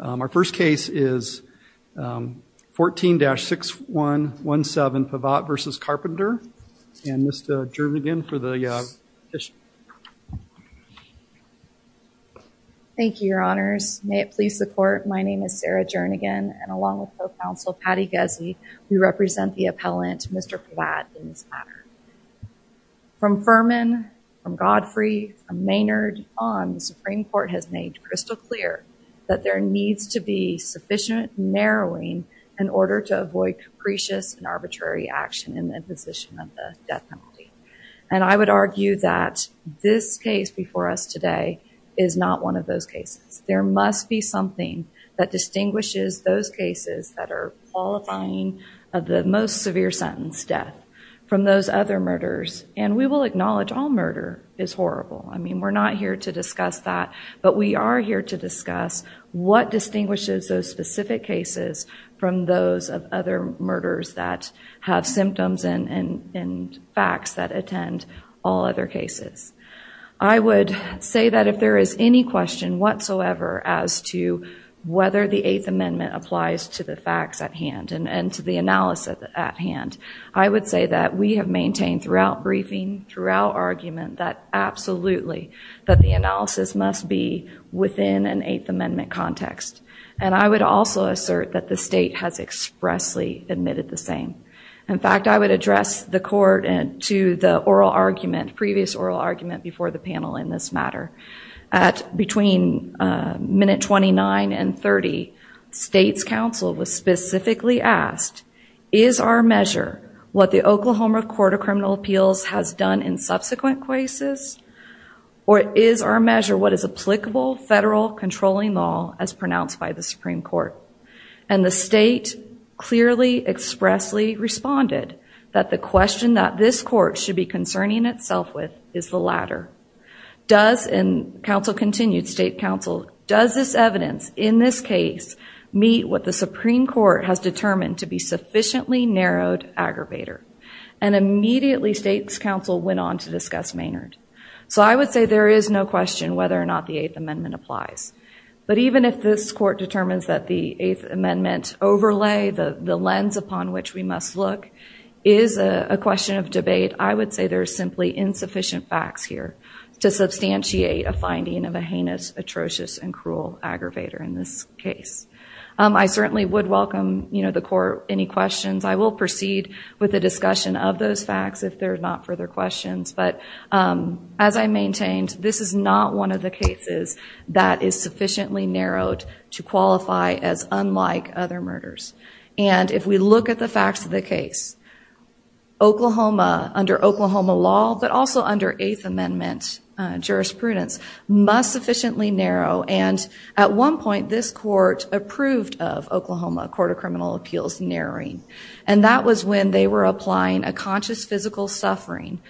Our first case is 14-6117 Pavatt v. Carpenter and Ms. Jernigan for the petition. Thank you, your honors. May it please the court, my name is Sarah Jernigan and along with Co-Counsel Patty Guzzi, we represent the appellant Mr. Pavatt in this matter. From Furman, from Godfrey, from Maynard on, the Supreme Court has made crystal clear that there needs to be sufficient narrowing in order to avoid capricious and arbitrary action in the imposition of the death penalty. And I would argue that this case before us today is not one of those cases. There must be something that distinguishes those cases that are qualifying of the most severe sentence, death, from those other murders. And we will acknowledge all murder is horrible. I mean, we're not here to discuss that, but we are here to discuss what distinguishes those specific cases from those of other murders that have symptoms and facts that attend all other cases. I would say that if there is any question whatsoever as to whether the Eighth Amendment applies to the facts at hand and to the analysis at hand, I would say that we have maintained throughout briefing, throughout argument, that absolutely that the analysis must be within an Eighth Amendment context. And I would also assert that the state has expressly admitted the same. In fact, I would address the court to the oral argument, previous oral argument, before the panel in this matter. At between minute 29 and 30, state's counsel was specifically asked, is our measure what the Oklahoma Court of Criminal Appeals has done in subsequent cases? Or is our measure what is applicable federal controlling law as pronounced by the Supreme Court? And the state clearly, expressly responded that the question that this court should be concerning itself with is the latter. Does, and counsel continued, state counsel, does this evidence in this case meet what the Supreme Court has determined to be sufficiently narrowed aggravator? And immediately, state's counsel went on to discuss Maynard. So I would say there is no question whether or not the Eighth Amendment applies. But even if this court determines that the Eighth Amendment overlay, the lens upon which we must look, is a question of debate, I would say there is simply insufficient facts here to substantiate a finding of a heinous, atrocious, and cruel aggravator in this case. I certainly would welcome the court any questions. I will proceed with the discussion of those facts if there are not further questions. But as I maintained, this is not one of the cases that is sufficiently narrowed to qualify as unlike other murders. And if we look at the facts of the case, Oklahoma, under Oklahoma law, but also under Eighth Amendment jurisprudence, must sufficiently narrow. And at one point, this court approved of Oklahoma Court of Criminal Appeals narrowing. And that was when they were applying a conscious physical suffering.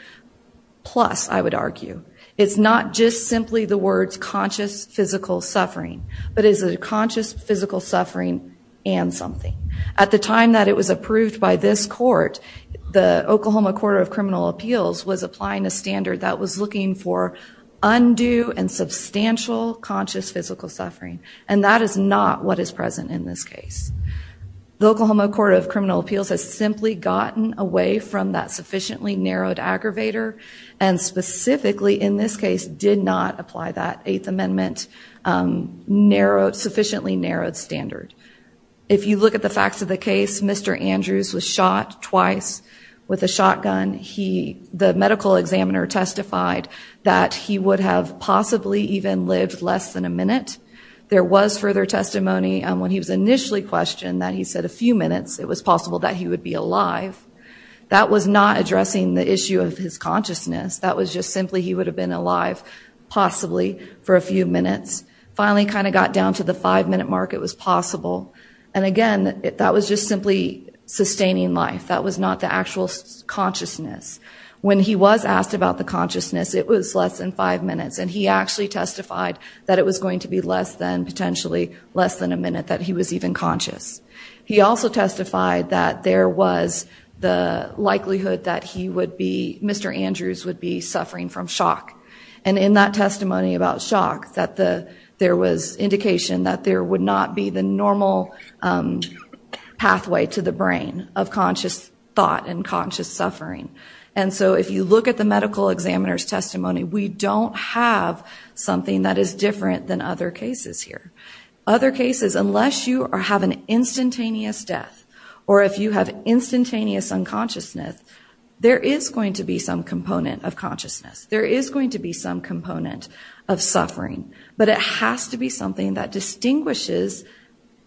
Plus, I would argue, it's not just simply the words conscious physical suffering, but it's a conscious physical suffering and something. At the time that it was approved by this court, the Oklahoma Court of Criminal Appeals was applying a standard that was looking for undue and substantial conscious physical suffering. And that is not what is present in this case. The Oklahoma Court of Criminal Appeals has simply gotten away from that sufficiently narrowed aggravator. And specifically, in this case, did not apply that Eighth Amendment sufficiently narrowed standard. If you look at the facts of the case, Mr. Andrews was shot twice with a shotgun. He, the medical examiner, testified that he would have possibly even lived less than a minute. There was further testimony when he was initially questioned that he said a few minutes, it was possible that he would be alive. That was not addressing the issue of his consciousness. That was just simply he would have been alive, possibly for a few minutes. Finally, kind of got down to the five minute mark, it was possible. And again, that was just simply sustaining life. That was not the actual consciousness. When he was asked about the consciousness, it was less than five minutes. And he actually testified that it was going to be less than, potentially, less than a minute that he was even conscious. He also testified that there was the likelihood that he would be, Mr. Andrews would be suffering from shock. And in that testimony about shock, that there was indication that there would not be the normal pathway to the brain of conscious thought and conscious suffering. And so if you look at the medical examiner's testimony, we don't have something that is different than other cases here. Other cases, unless you have an instantaneous death, or if you have instantaneous unconsciousness, there is going to be some component of consciousness. There is going to be some component of suffering. But it has to be something that distinguishes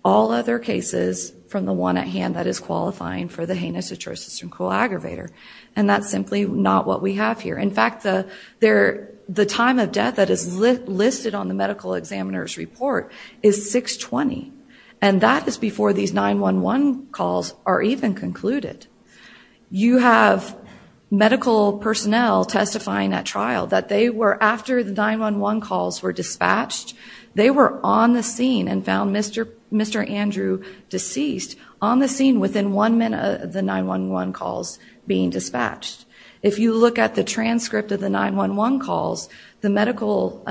all other cases from the one at hand that is qualifying for the heinous atrocious and cruel aggravator. And that's simply not what we have here. In fact, the time of death that is listed on the medical examiner's report is 620. And that is before these 911 calls are even concluded. You have medical personnel testifying at trial that they were, after the 911 calls were dispatched, they were on the scene and found Mr. Andrew deceased on the scene within one minute of the 911 calls being dispatched. If you look at the transcript of the 911 calls, the medical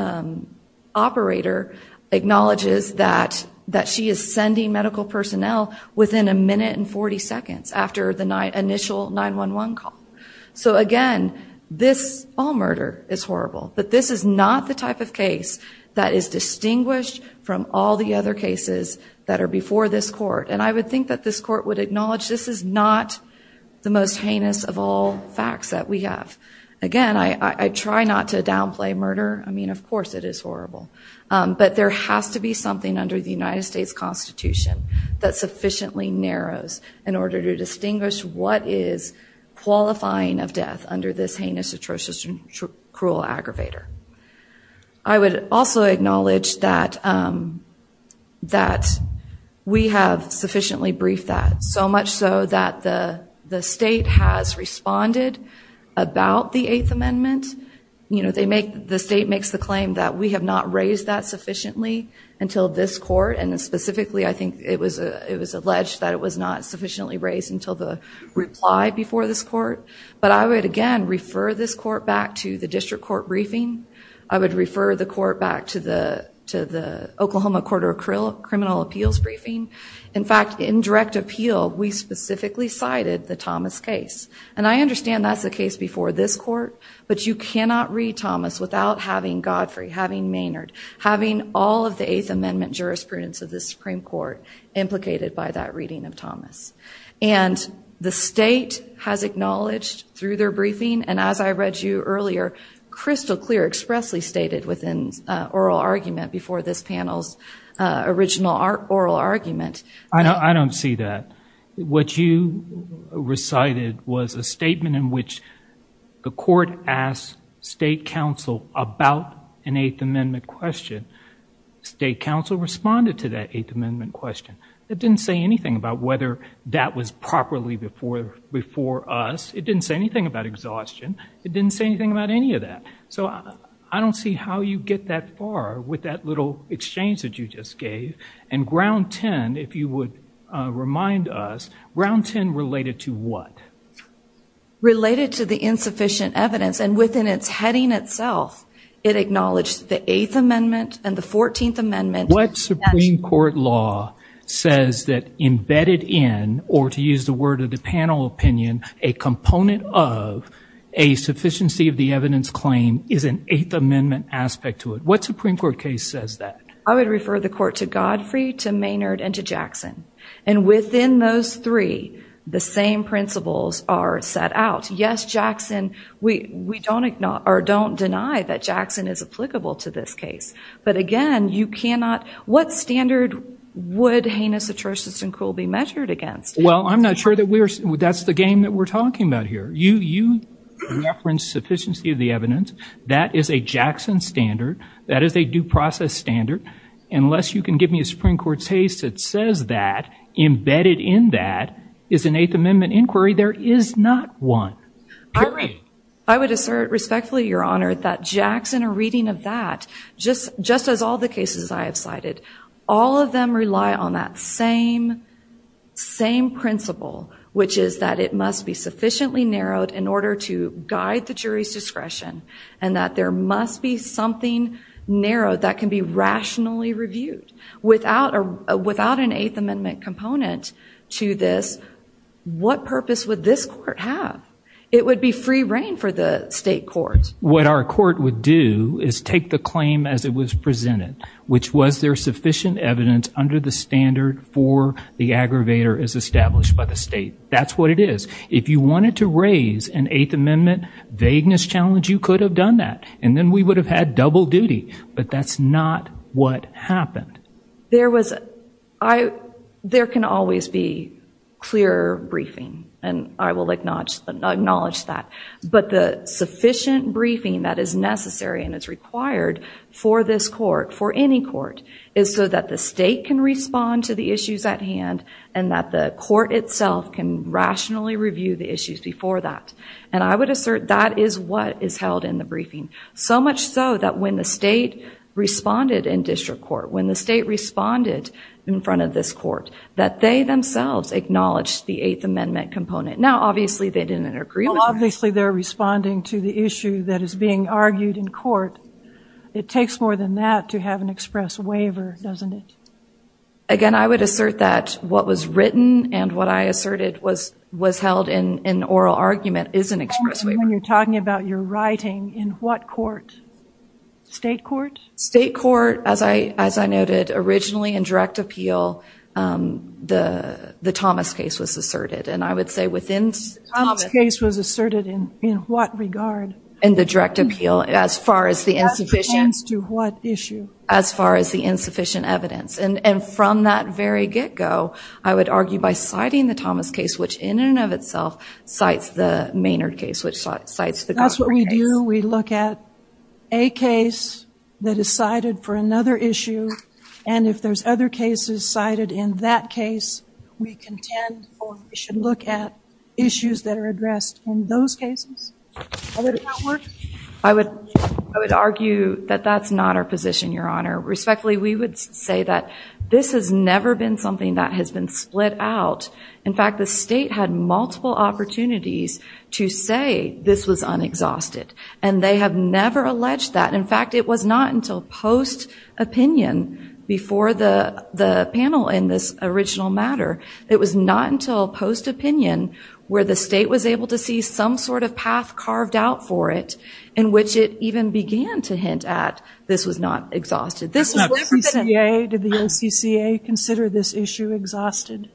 operator acknowledges that she is sending medical personnel within a minute and 40 seconds after the initial 911 call. So again, this all murder is horrible. But this is not the type of case that is distinguished from all the other cases that are before this court. And I would think that this court would acknowledge this is not the most heinous of all facts that we have. Again, I try not to downplay murder. I mean, of course it is horrible. But there has to be something under the United States Constitution that sufficiently narrows in order to distinguish what is qualifying of death under this heinous, atrocious, and cruel aggravator. I would also acknowledge that we have sufficiently briefed that. So much so that the state has responded about the Eighth Amendment. The state makes the claim that we have not raised that sufficiently until this court. And specifically, I think it was alleged that it was not sufficiently raised until the reply before this court. But I would, again, refer this court back to the district court briefing. I would refer the court back to the Oklahoma Court of Criminal Appeals briefing. In fact, in direct appeal, we specifically cited the Thomas case. And I understand that's the case before this court. But you cannot read Thomas without having Godfrey, having Maynard, having all of the Eighth Amendment jurisprudence of the Supreme Court implicated by that reading of Thomas. And the state has acknowledged through their briefing, and as I read you earlier, crystal clear, expressly stated within oral argument before this panel's original oral argument. I don't see that. What you recited was a statement in which the court asked state counsel about an Eighth Amendment question. State counsel responded to that Eighth Amendment question. It didn't say anything about whether that was properly before us. It didn't say anything about exhaustion. It didn't say anything about any of that. So I don't see how you get that far with that little exchange that you just gave. And Ground 10, if you would remind us, Ground 10 related to what? Related to the insufficient evidence. And within its heading itself, it acknowledged the Eighth Amendment and the Fourteenth Amendment. What Supreme Court law says that embedded in, or to use the word of the panel opinion, a component of a sufficiency of the evidence claim is an Eighth Amendment aspect to it? What Supreme Court case says that? I would refer the court to Godfrey, to Maynard, and to Jackson. And within those three, the same principles are set out. Yes, Jackson, we don't deny that Jackson is applicable to this case. But, again, you cannot – what standard would heinous atrocious and cruel be measured against? Well, I'm not sure that's the game that we're talking about here. You reference sufficiency of the evidence. That is a Jackson standard. That is a due process standard. Unless you can give me a Supreme Court case that says that embedded in that is an Eighth Amendment inquiry, there is not one. Period. I would assert respectfully, Your Honor, that Jackson, a reading of that, just as all the cases I have cited, all of them rely on that same principle, which is that it must be sufficiently narrowed in order to guide the jury's discretion and that there must be something narrow that can be rationally reviewed. Without an Eighth Amendment component to this, what purpose would this court have? It would be free reign for the state court. What our court would do is take the claim as it was presented, which was there sufficient evidence under the standard for the aggravator as established by the state. That's what it is. If you wanted to raise an Eighth Amendment vagueness challenge, you could have done that, and then we would have had double duty. But that's not what happened. There can always be clearer briefing, and I will acknowledge that. But the sufficient briefing that is necessary and is required for this court, for any court, is so that the state can respond to the issues at hand and that the court itself can rationally review the issues before that. And I would assert that is what is held in the briefing, so much so that when the state responded in district court, when the state responded in front of this court, that they themselves acknowledged the Eighth Amendment component. Now, obviously they didn't agree with that. Well, obviously they're responding to the issue that is being argued in court. It takes more than that to have an express waiver, doesn't it? Again, I would assert that what was written and what I asserted was held in oral argument is an express waiver. And when you're talking about your writing, in what court? State court? State court, as I noted originally in direct appeal, the Thomas case was asserted. And I would say within Thomas. The Thomas case was asserted in what regard? In the direct appeal, as far as the insufficient. That pertains to what issue? As far as the insufficient evidence. And from that very get-go, I would argue by citing the Thomas case, which in and of itself cites the Maynard case, which cites the Godfrey case. That's what we do. We look at a case that is cited for another issue, and if there's other cases cited in that case, we contend we should look at issues that are addressed in those cases. How would that work? I would argue that that's not our position, Your Honor. Respectfully, we would say that this has never been something that has been split out. In fact, the state had multiple opportunities to say this was unexhausted, and they have never alleged that. In fact, it was not until post-opinion before the panel in this original matter. It was not until post-opinion where the state was able to see some sort of path carved out for it in which it even began to hint at this was not exhausted. Did the OCCA consider this issue exhausted?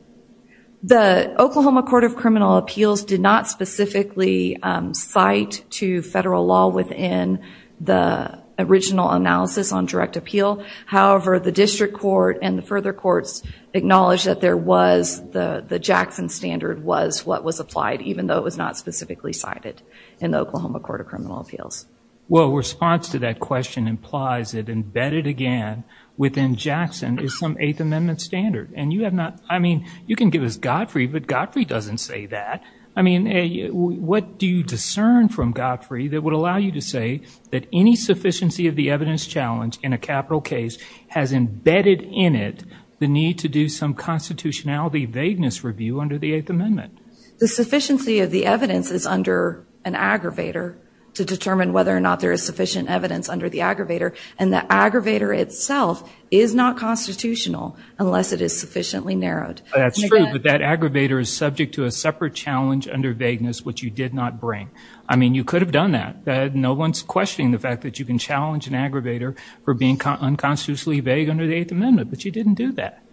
The Oklahoma Court of Criminal Appeals did not specifically cite to federal law within the original analysis on direct appeal. However, the district court and the further courts acknowledged that the Jackson standard was what was applied, even though it was not specifically cited in the Oklahoma Court of Criminal Appeals. Well, response to that question implies that embedded again within Jackson is some Eighth Amendment standard. I mean, you can give us Godfrey, but Godfrey doesn't say that. I mean, what do you discern from Godfrey that would allow you to say that any sufficiency of the evidence challenge in a capital case has embedded in it the need to do some constitutionality vagueness review under the Eighth Amendment? The sufficiency of the evidence is under an aggravator to determine whether or not there is sufficient evidence under the aggravator, and the aggravator itself is not constitutional unless it is sufficiently narrowed. That's true, but that aggravator is subject to a separate challenge under vagueness, which you did not bring. I mean, you could have done that. No one's questioning the fact that you can challenge an aggravator for being unconstitutionally vague under the Eighth Amendment, but you didn't do that.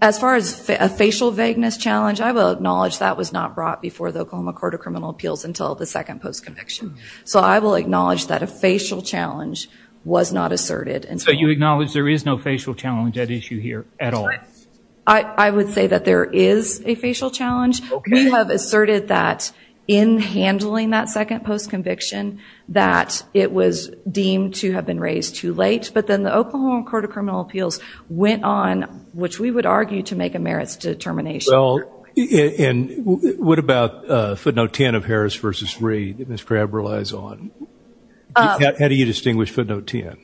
As far as a facial vagueness challenge, I will acknowledge that was not brought before the Oklahoma Court of Criminal Appeals until the second post-conviction. So I will acknowledge that a facial challenge was not asserted. So you acknowledge there is no facial challenge at issue here at all? I would say that there is a facial challenge. We have asserted that in handling that second post-conviction that it was deemed to have been raised too late, but then the Oklahoma Court of Criminal Appeals went on, which we would argue to make a merits determination. Well, and what about footnote 10 of Harris v. Reed that Ms. Crabb relies on? How do you distinguish footnote 10?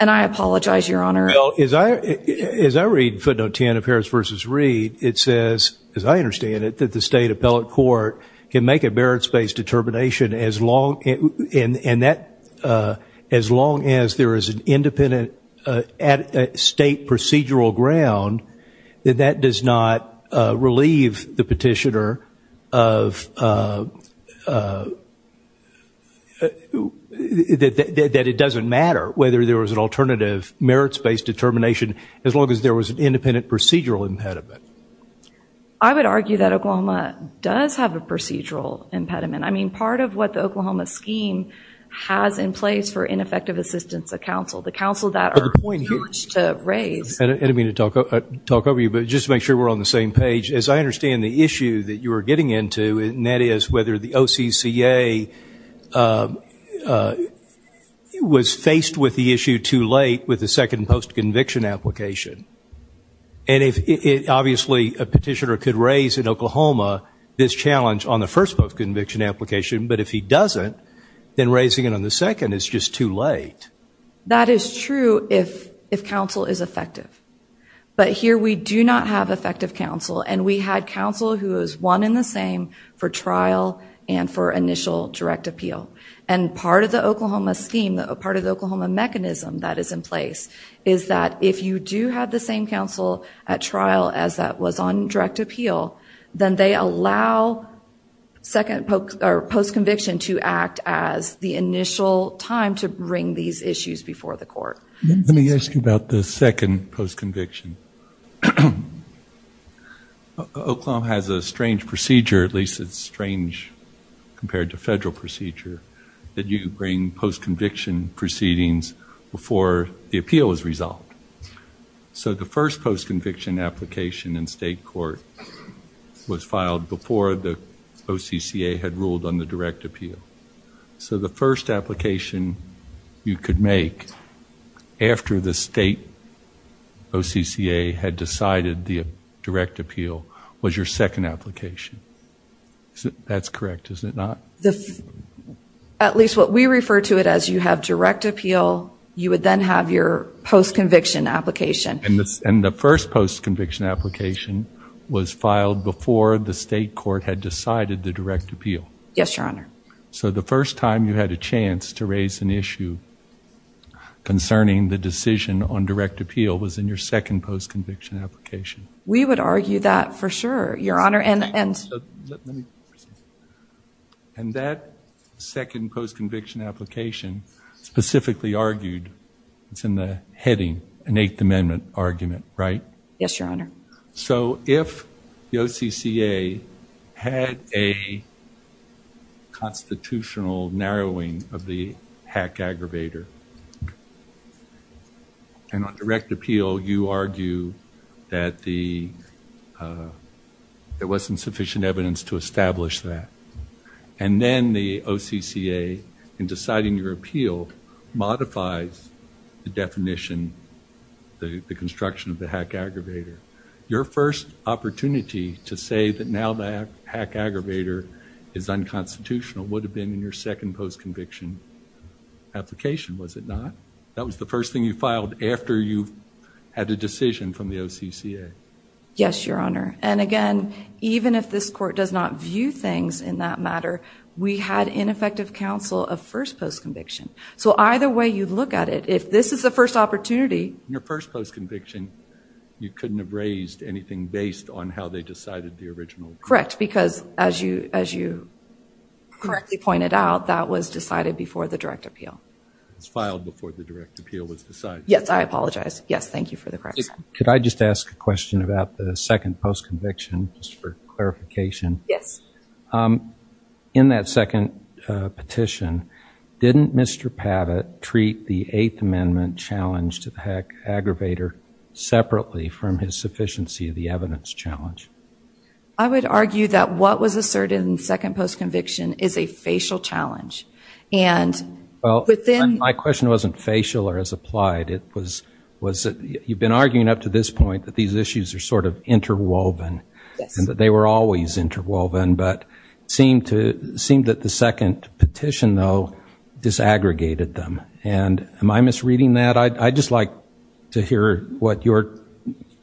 And I apologize, Your Honor. Well, as I read footnote 10 of Harris v. Reed, it says, as I understand it, that the state appellate court can make a merits-based determination as long as there is an independent state procedural ground, that that does not relieve the petitioner that it doesn't matter whether there was an alternative merits-based determination as long as there was an independent procedural impediment. I would argue that Oklahoma does have a procedural impediment. I mean, part of what the Oklahoma scheme has in place for ineffective assistance of counsel, the counsel that are huge to raise. I didn't mean to talk over you, but just to make sure we're on the same page, as I understand the issue that you were getting into, and that is whether the OCCA was faced with the issue too late with the second post-conviction application. And obviously a petitioner could raise in Oklahoma this challenge on the first post-conviction application, but if he doesn't, then raising it on the second is just too late. That is true if counsel is effective. But here we do not have effective counsel, and we had counsel who was one in the same for trial and for initial direct appeal. And part of the Oklahoma scheme, part of the Oklahoma mechanism that is in place, is that if you do have the same counsel at trial as that was on direct appeal, then they allow post-conviction to act as the initial time to bring these issues before the court. Let me ask you about the second post-conviction. Oklahoma has a strange procedure, at least it's strange compared to federal procedure, that you bring post-conviction proceedings before the appeal is resolved. So the first post-conviction application in state court was filed before the OCCA had ruled on the direct appeal. So the first application you could make after the state OCCA had decided the direct appeal was your second application. That's correct, is it not? At least what we refer to it as, you have direct appeal, you would then have your post-conviction application. And the first post-conviction application was filed before the state court had decided the direct appeal. Yes, Your Honor. So the first time you had a chance to raise an issue concerning the decision on direct appeal was in your second post-conviction application. We would argue that for sure, Your Honor. And that second post-conviction application specifically argued, it's in the heading, an Eighth Amendment argument, right? Yes, Your Honor. So if the OCCA had a constitutional narrowing of the hack aggravator, and on direct appeal you argue that there wasn't sufficient evidence to establish that, and then the OCCA, in deciding your appeal, modifies the definition, the construction of the hack aggravator, your first opportunity to say that now the hack aggravator is unconstitutional would have been in your second post-conviction application, was it not? That was the first thing you filed after you had a decision from the OCCA. Yes, Your Honor. And again, even if this court does not view things in that matter, we had ineffective counsel of first post-conviction. So either way you look at it, if this is the first opportunity. Your first post-conviction, you couldn't have raised anything based on how they decided the original. Correct, because as you correctly pointed out, that was decided before the direct appeal. It was filed before the direct appeal was decided. Yes, I apologize. Yes, thank you for the correction. Could I just ask a question about the second post-conviction, just for clarification? Yes. In that second petition, didn't Mr. Pavitt treat the Eighth Amendment challenge to the hack aggravator separately from his sufficiency of the evidence challenge? I would argue that what was asserted in the second post-conviction is a facial challenge. My question wasn't facial or as applied. You've been arguing up to this point that these issues are sort of interwoven. Yes. And that they were always interwoven, but it seemed that the second petition, though, disaggregated them. Am I misreading that? I'd just like to hear what your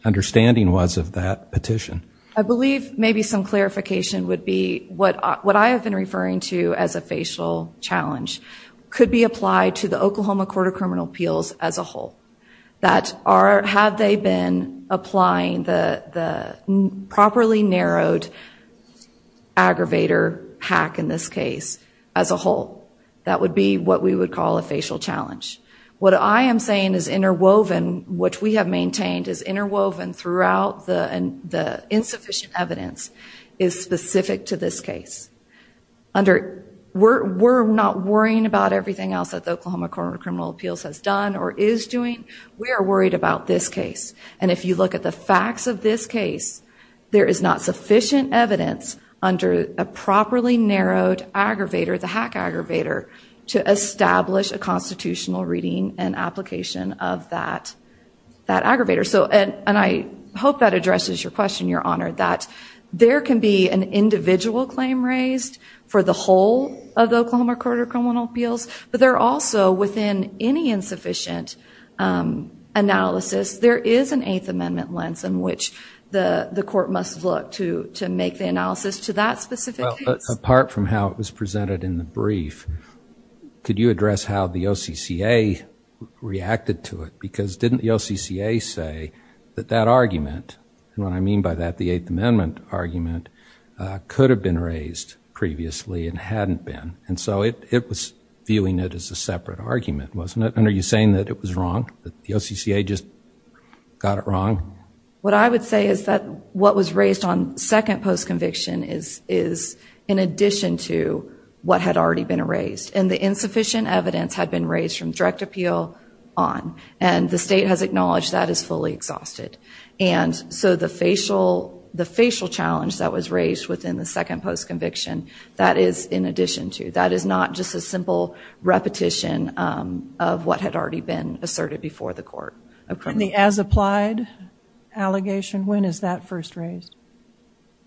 understanding was of that petition. I believe maybe some clarification would be what I have been referring to as a facial challenge could be applied to the Oklahoma Court of Criminal Appeals as a whole. Have they been applying the properly narrowed aggravator hack, in this case, as a whole? That would be what we would call a facial challenge. What I am saying is interwoven, which we have maintained is interwoven throughout the insufficient evidence, is specific to this case. We're not worrying about everything else that the Oklahoma Court of Criminal Appeals has done or is doing. We are worried about this case. And if you look at the facts of this case, there is not sufficient evidence under a properly narrowed aggravator, the hack aggravator, to establish a constitutional reading and application of that aggravator. And I hope that addresses your question, Your Honor, that there can be an individual claim raised for the whole of the Oklahoma Court of Criminal Appeals, but there also, within any insufficient analysis, there is an Eighth Amendment lens in which the court must look to make the analysis to that specific case. Apart from how it was presented in the brief, could you address how the OCCA reacted to it? Because didn't the OCCA say that that argument, and what I mean by that, the Eighth Amendment argument, could have been raised previously and hadn't been? And so it was viewing it as a separate argument, wasn't it? And are you saying that it was wrong, that the OCCA just got it wrong? What I would say is that what was raised on second post-conviction is in addition to what had already been raised. And the insufficient evidence had been raised from direct appeal on, and the state has acknowledged that is fully exhausted. And so the facial challenge that was raised within the second post-conviction, that is in addition to. That is not just a simple repetition of what had already been asserted before the court. And the as-applied allegation, when is that first raised?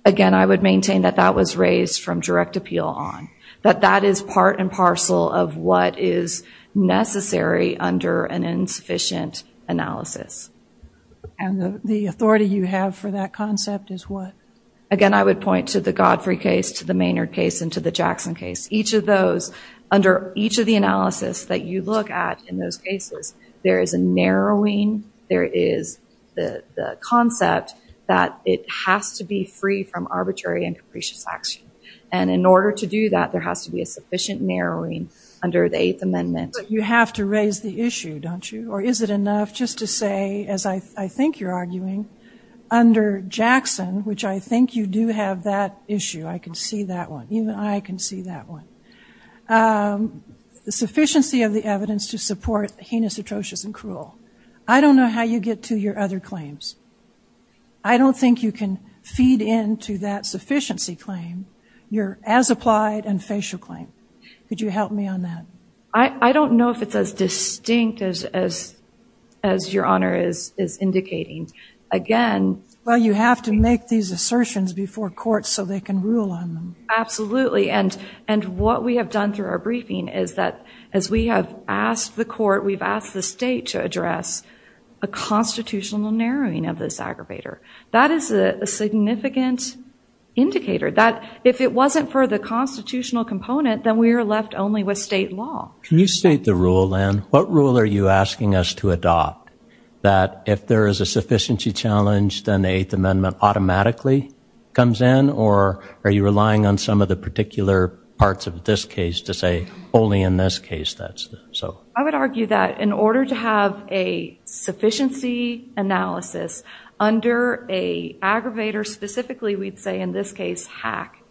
Again, I would maintain that that was raised from direct appeal on. That that is part and parcel of what is necessary under an insufficient analysis. And the authority you have for that concept is what? Again, I would point to the Godfrey case, to the Maynard case, and to the Jackson case. Each of those, under each of the analysis that you look at in those cases, there is a narrowing. There is the concept that it has to be free from arbitrary and capricious action. And in order to do that, there has to be a sufficient narrowing under the Eighth Amendment. But you have to raise the issue, don't you? Or is it enough just to say, as I think you're arguing, under Jackson, which I think you do have that issue. I can see that one. Even I can see that one. The sufficiency of the evidence to support heinous, atrocious, and cruel. I don't know how you get to your other claims. I don't think you can feed into that sufficiency claim your as-applied and facial claim. Could you help me on that? I don't know if it's as distinct as your Honor is indicating. Well, you have to make these assertions before court so they can rule on them. Absolutely. And what we have done through our briefing is that as we have asked the court, we've asked the state to address a constitutional narrowing of this aggravator. That is a significant indicator that if it wasn't for the constitutional component, then we are left only with state law. Can you state the rule, then? What rule are you asking us to adopt? That if there is a sufficiency challenge, then the Eighth Amendment automatically comes in? Or are you relying on some of the particular parts of this case to say only in this case? I would argue that in order to have a sufficiency analysis under an aggravator, specifically, we'd say in this case, hack,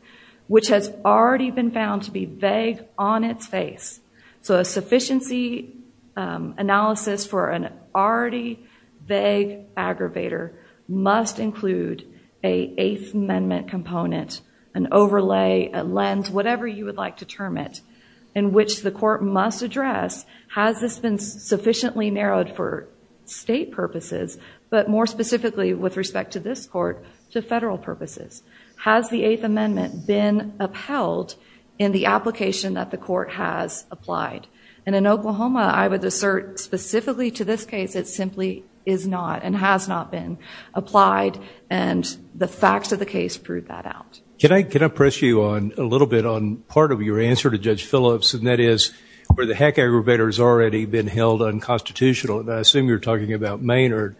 which has already been found to be vague on its face. So a sufficiency analysis for an already vague aggravator must include an Eighth Amendment component, an overlay, a lens, whatever you would like to term it, in which the court must address, has this been sufficiently narrowed for state purposes, but more specifically with respect to this court, to federal purposes? Has the Eighth Amendment been upheld in the application that the court has applied? And in Oklahoma, I would assert specifically to this case, it simply is not and has not been applied, and the facts of the case prove that out. Can I press you on a little bit on part of your answer to Judge Phillips, and that is where the hack aggravator has already been held unconstitutional, and I assume you're talking about Maynard,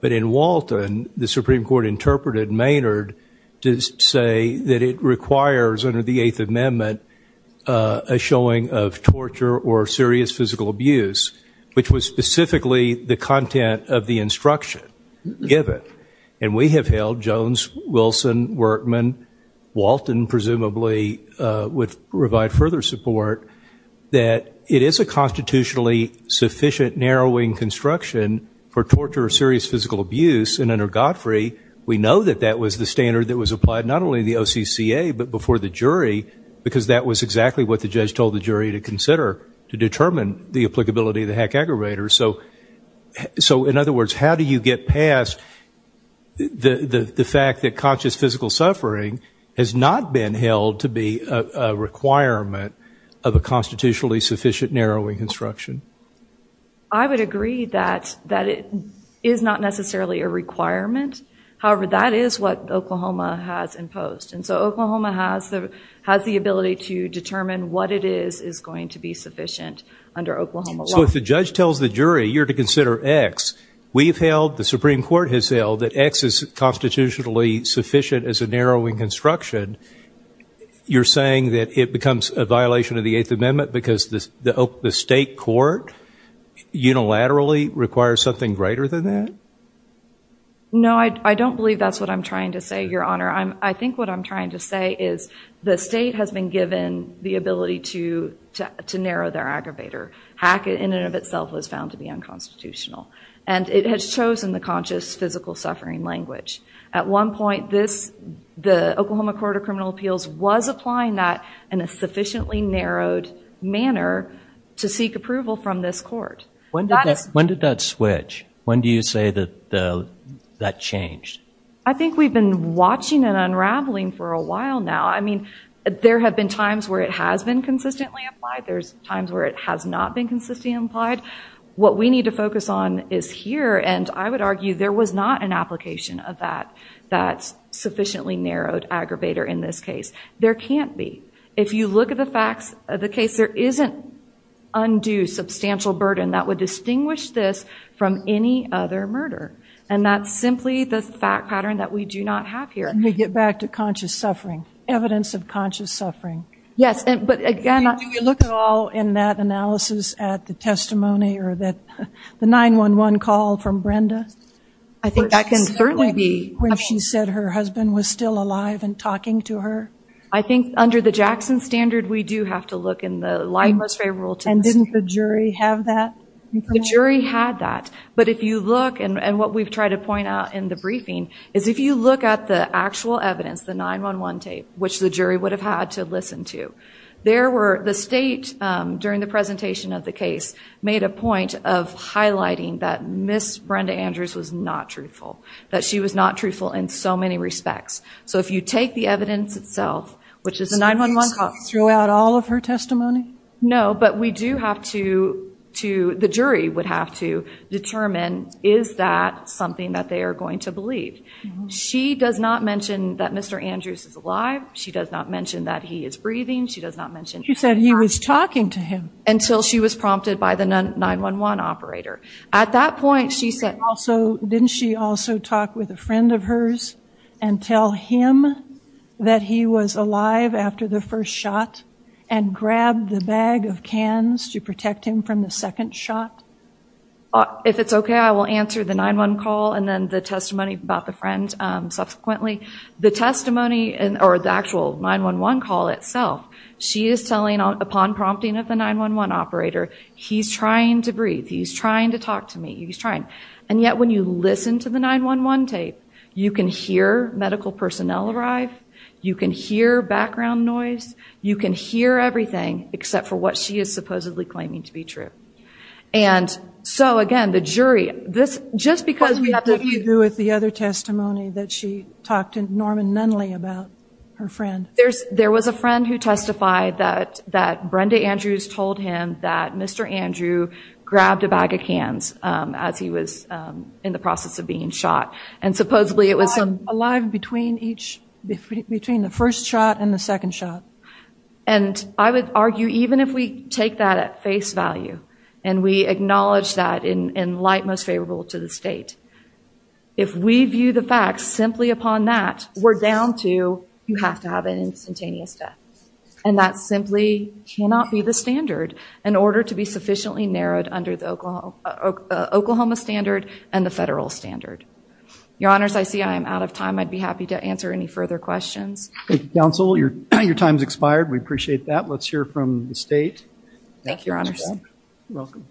but in Walton the Supreme Court interpreted Maynard to say that it requires under the Eighth Amendment a showing of torture or serious physical abuse, which was specifically the content of the instruction given. And we have held, Jones, Wilson, Workman, Walton presumably would provide further support, that it is a constitutionally sufficient narrowing construction for torture or serious physical abuse, and under Godfrey we know that that was the standard that was applied not only to the OCCA, but before the jury because that was exactly what the judge told the jury to consider to determine the applicability of the hack aggravator. So in other words, how do you get past the fact that conscious physical suffering has not been held to be a requirement of a constitutionally sufficient narrowing construction? I would agree that it is not necessarily a requirement. However, that is what Oklahoma has imposed, and so Oklahoma has the ability to determine what it is is going to be sufficient under Oklahoma law. So if the judge tells the jury you're to consider X, we have held, you're saying that it becomes a violation of the Eighth Amendment because the state court unilaterally requires something greater than that? No, I don't believe that's what I'm trying to say, Your Honor. I think what I'm trying to say is the state has been given the ability to narrow their aggravator. Hack in and of itself was found to be unconstitutional, and it has chosen the conscious physical suffering language. At one point, the Oklahoma Court of Criminal Appeals was applying that in a sufficiently narrowed manner to seek approval from this court. When did that switch? When do you say that that changed? I think we've been watching and unraveling for a while now. I mean, there have been times where it has been consistently applied. There's times where it has not been consistently applied. What we need to focus on is here, and I would argue there was not an application of that, that sufficiently narrowed aggravator in this case. There can't be. If you look at the facts of the case, there isn't undue substantial burden that would distinguish this from any other murder, and that's simply the fact pattern that we do not have here. Let me get back to conscious suffering, evidence of conscious suffering. Do we look at all in that analysis at the testimony or the 911 call from Brenda? I think that can certainly be. When she said her husband was still alive and talking to her? I think under the Jackson standard, we do have to look in the life most favorable test. And didn't the jury have that? The jury had that, but if you look, and what we've tried to point out in the briefing, is if you look at the actual evidence, the 911 tape, which the jury would have had to listen to, the state, during the presentation of the case, made a point of highlighting that Ms. Brenda Andrews was not truthful, that she was not truthful in so many respects. So if you take the evidence itself, which is the 911 call. So you just threw out all of her testimony? No, but we do have to, the jury would have to, She does not mention that Mr. Andrews is alive. She does not mention that he is breathing. She does not mention he was talking to him. Until she was prompted by the 911 operator. At that point, she said. Didn't she also talk with a friend of hers and tell him that he was alive after the first shot and grab the bag of cans to protect him from the second shot? If it's okay, I will answer the 911 call and then the testimony about the friend subsequently. The testimony, or the actual 911 call itself, she is telling upon prompting of the 911 operator, he's trying to breathe, he's trying to talk to me, he's trying. And yet when you listen to the 911 tape, you can hear medical personnel arrive, you can hear background noise, you can hear everything except for what she is supposedly claiming to be true. And so again, the jury, just because we have to. What did you do with the other testimony that she talked to Norman Nunley about her friend? There was a friend who testified that Brenda Andrews told him that Mr. Andrews grabbed a bag of cans as he was in the process of being shot. And supposedly it was alive between the first shot and the second shot. And I would argue even if we take that at face value and we acknowledge that in light most favorable to the state, if we view the facts simply upon that, we're down to you have to have an instantaneous death. And that simply cannot be the standard in order to be sufficiently narrowed under the Oklahoma standard and the federal standard. Your Honors, I see I am out of time. I'd be happy to answer any further questions. Thank you, counsel. Your time's expired. We appreciate that. Let's hear from the state. Thank you, Your Honors. You're welcome.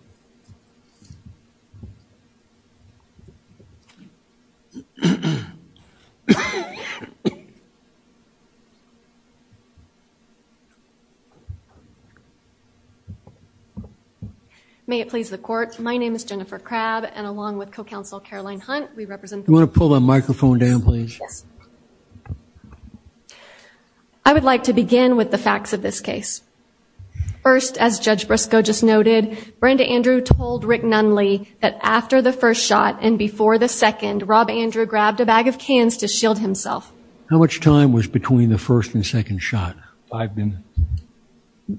May it please the court. My name is Jennifer Crabb and along with co-counsel Caroline Hunt, we represent. You want to pull the microphone down, please? Yes. I would like to begin with the facts of this case. First, as Judge Briscoe just noted, Brenda Andrew told Rick Nunley that after the first shot and before the second, Rob Andrew grabbed a bag of cans to shield himself. How much time was between the first and second shot? Five minutes?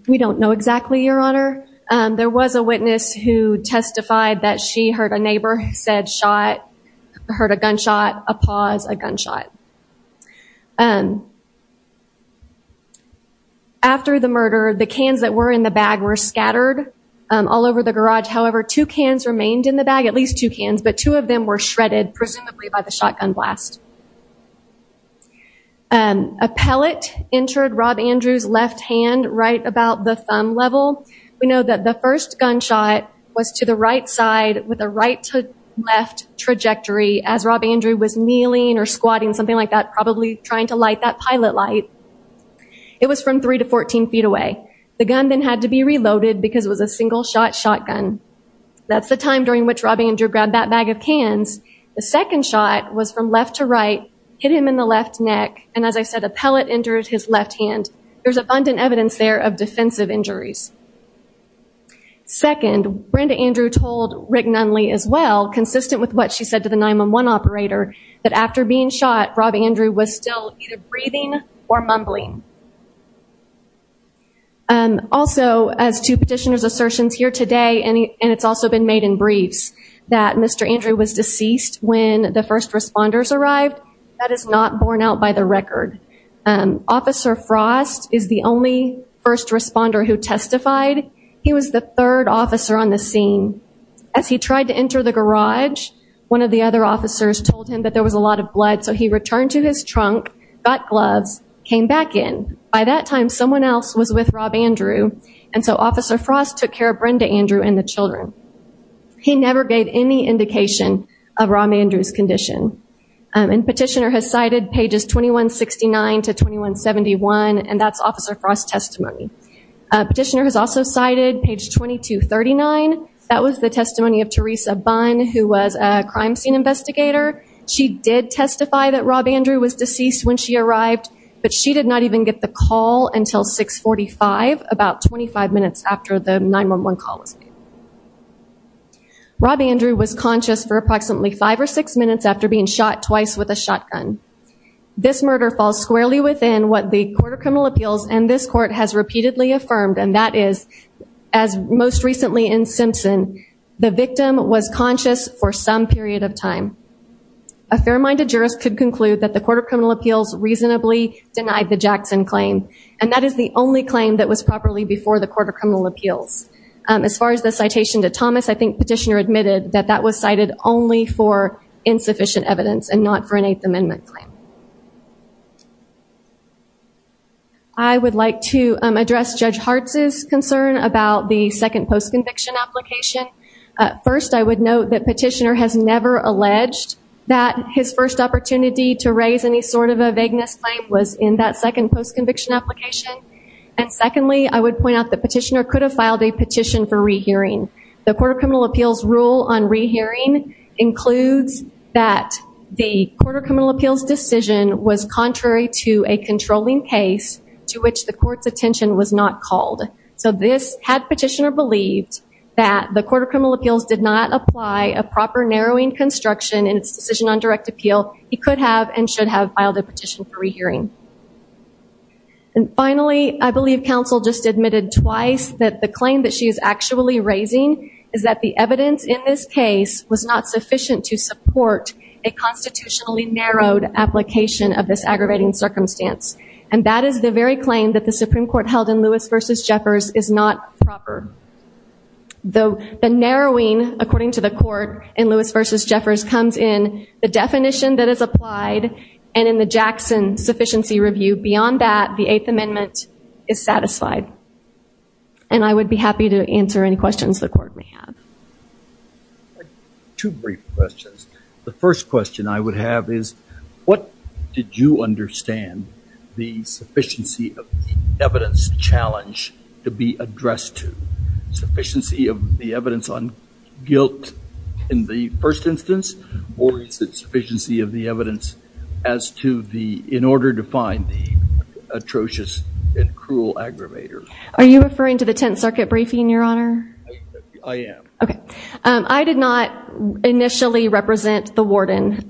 We don't know exactly, Your Honor. There was a witness who testified that she heard a neighbor said shot, heard a gunshot, a pause, a gunshot. After the murder, the cans that were in the bag were scattered all over the garage. However, two cans remained in the bag, at least two cans, but two of them were shredded presumably by the shotgun blast. A pellet entered Rob Andrew's left hand right about the thumb level. We know that the first gunshot was to the right side with a right to left trajectory as Rob Andrew was kneeling or squatting, something like that, probably trying to light that pilot light. It was from three to 14 feet away. The gun then had to be reloaded because it was a single-shot shotgun. That's the time during which Rob Andrew grabbed that bag of cans. The second shot was from left to right, hit him in the left neck, and as I said, a pellet entered his left hand. There's abundant evidence there of defensive injuries. Second, Brenda Andrew told Rick Nunley as well, consistent with what she said to the 911 operator, that after being shot, Rob Andrew was still either breathing or mumbling. Also, as to petitioner's assertions here today, and it's also been made in briefs, that Mr. Andrew was deceased when the first responders arrived, that is not borne out by the record. Officer Frost is the only first responder who testified. He was the third officer on the scene. As he tried to enter the garage, one of the other officers told him that there was a lot of blood, so he returned to his trunk, got gloves, came back in. By that time, someone else was with Rob Andrew, and so Officer Frost took care of Brenda Andrew and the children. He never gave any indication of Rob Andrew's condition. And petitioner has cited pages 2169 to 2171, and that's Officer Frost's testimony. Petitioner has also cited page 2239. That was the testimony of Teresa Bunn, who was a crime scene investigator. She did testify that Rob Andrew was deceased when she arrived, but she did not even get the call until 645, about 25 minutes after the 911 call was made. Rob Andrew was conscious for approximately five or six minutes after being shot twice with a shotgun. This murder falls squarely within what the Court of Criminal Appeals and this court has repeatedly affirmed, and that is, as most recently in Simpson, the victim was conscious for some period of time. A fair-minded jurist could conclude that the Court of Criminal Appeals reasonably denied the Jackson claim, and that is the only claim that was properly before the Court of Criminal Appeals. As far as the citation to Thomas, I think petitioner admitted that that was cited only for insufficient evidence and not for an Eighth Amendment claim. I would like to address Judge Hartz's concern about the second post-conviction application. First, I would note that petitioner has never alleged that his first opportunity to raise any sort of a vagueness claim was in that second post-conviction application. And secondly, I would point out that petitioner could have filed a petition for rehearing. The Court of Criminal Appeals rule on rehearing includes that the Court of Criminal Appeals decision was contrary to a controlling case to which the court's attention was not called. So this had petitioner believed that the Court of Criminal Appeals did not apply a proper narrowing construction in its decision on direct appeal. He could have and should have filed a petition for rehearing. And finally, I believe counsel just admitted twice that the claim that she is actually raising is that the evidence in this case was not sufficient to support a constitutionally narrowed application of this aggravating circumstance. And that is the very claim that the Supreme Court held in Lewis v. Jeffers is not proper. The narrowing, according to the Court in Lewis v. Jeffers, comes in the definition that is applied and in the Jackson Sufficiency Review. Beyond that, the Eighth Amendment is satisfied. And I would be happy to answer any questions the Court may have. Two brief questions. The first question I would have is what did you understand the sufficiency of the evidence challenge to be addressed to? Sufficiency of the evidence on guilt in the first instance or is it sufficiency of the evidence as to the... Are you referring to the Tenth Circuit briefing, Your Honor? I am. Okay. I did not initially represent the warden.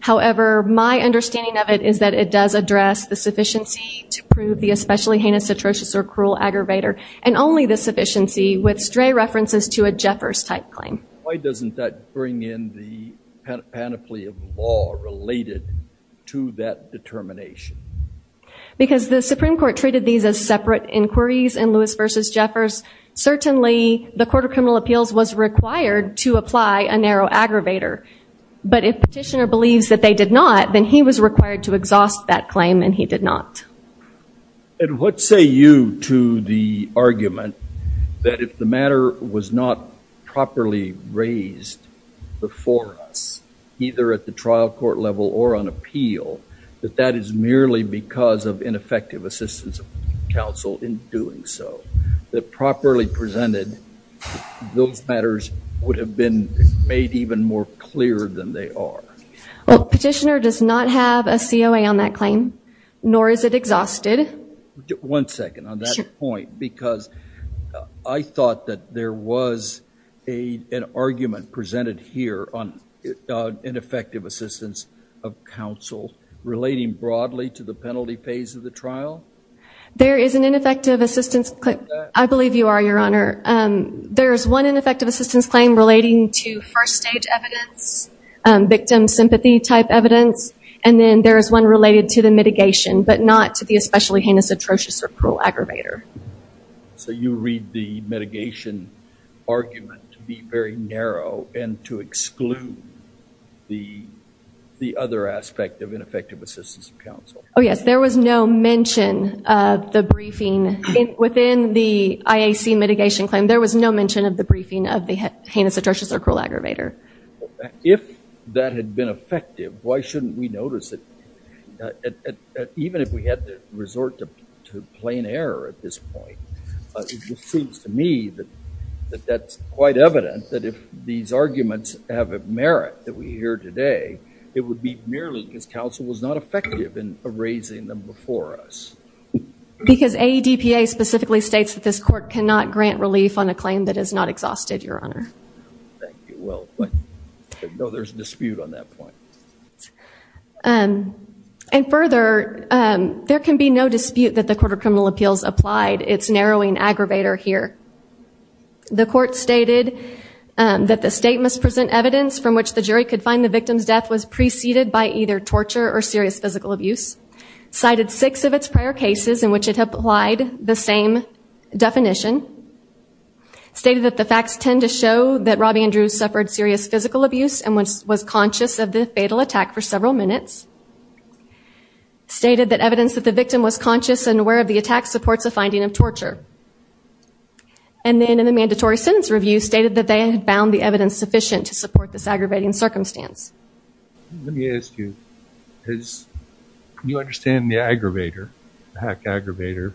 However, my understanding of it is that it does address the sufficiency to prove the especially heinous, atrocious, or cruel aggravator and only the sufficiency with stray references to a Jeffers-type claim. Why doesn't that bring in the panoply of law related to that determination? Because the Supreme Court treated these as separate inquiries in Lewis v. Jeffers. Certainly, the Court of Criminal Appeals was required to apply a narrow aggravator. But if the petitioner believes that they did not, then he was required to exhaust that claim and he did not. And what say you to the argument that if the matter was not properly raised before us, either at the trial court level or on appeal, that that is merely because of ineffective assistance of counsel in doing so? That properly presented, those matters would have been made even more clear than they are? Petitioner does not have a COA on that claim, nor is it exhausted. One second on that point, because I thought that there was an argument presented here on ineffective assistance of counsel relating broadly to the penalty phase of the trial? There is an ineffective assistance claim. I believe you are, Your Honor. There is one ineffective assistance claim relating to first-stage evidence, victim sympathy-type evidence, and then there is one related to the mitigation, but not to the especially heinous, atrocious, or cruel aggravator. So you read the mitigation argument to be very narrow and to exclude the other aspect of ineffective assistance of counsel. Oh, yes. There was no mention of the briefing. Within the IAC mitigation claim, there was no mention of the briefing of the heinous, atrocious, or cruel aggravator. If that had been effective, why shouldn't we notice it? Even if we had to resort to plain error at this point, it just seems to me that that's quite evident that if these arguments have a merit that we hear today, it would be merely because counsel was not effective in erasing them before us. Because AEDPA specifically states that this court cannot grant relief on a claim that is not exhausted, Your Honor. Thank you. Well, no, there's a dispute on that point. And further, there can be no dispute that the Court of Criminal Appeals applied its narrowing aggravator here. The court stated that the state must present evidence from which the jury could find the victim's death was preceded by either torture or serious physical abuse. Cited six of its prior cases in which it applied the same definition. Stated that the facts tend to show that Robbie Andrews suffered serious physical abuse and was conscious of the fatal attack for several minutes. Stated that evidence that the victim was conscious and aware of the attack supports a finding of torture. And then in the mandatory sentence review, stated that they had found the evidence sufficient to support this aggravating circumstance. Let me ask you, as you understand the aggravator, the hack aggravator,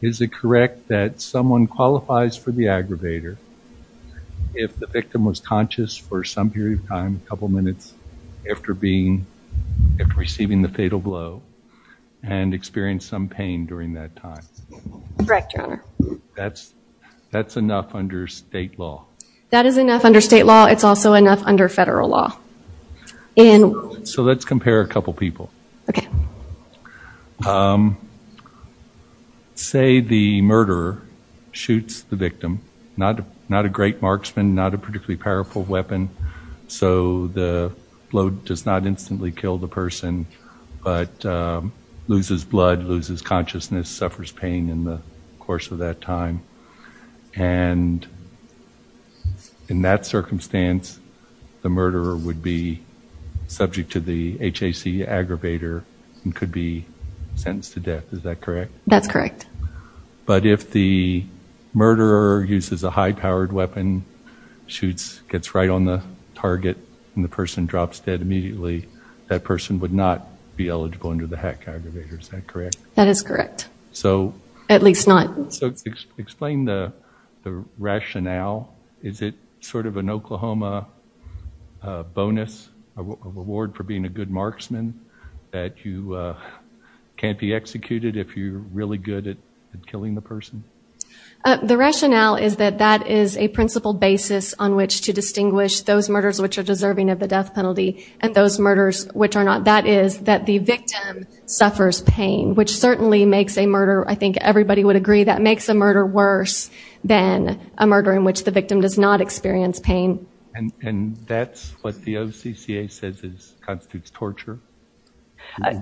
is it correct that someone qualifies for the aggravator if the victim was conscious for some period of time, a couple of minutes after receiving the fatal blow and experienced some pain during that time? Correct, Your Honor. That's enough under state law? That is enough under state law. It's also enough under federal law. So let's compare a couple people. Okay. Say the murderer shoots the victim, not a great marksman, not a particularly powerful weapon, so the blow does not instantly kill the person, but loses blood, loses consciousness, suffers pain in the course of that time. And in that circumstance, the murderer would be subject to the HAC aggravator and could be sentenced to death. Is that correct? That's correct. But if the murderer uses a high-powered weapon, gets right on the target, and the person drops dead immediately, that person would not be eligible under the HAC aggravator. Is that correct? That is correct. At least not. So explain the rationale. Is it sort of an Oklahoma bonus, a reward for being a good marksman that you can't be executed if you're really good at killing the person? The rationale is that that is a principled basis on which to distinguish those murders which are deserving of the death penalty and those murders which are not. That is that the victim suffers pain, which certainly makes a murder, I think everybody would agree, that makes a murder worse than a murder in which the victim does not experience pain. And that's what the OCCA says constitutes torture?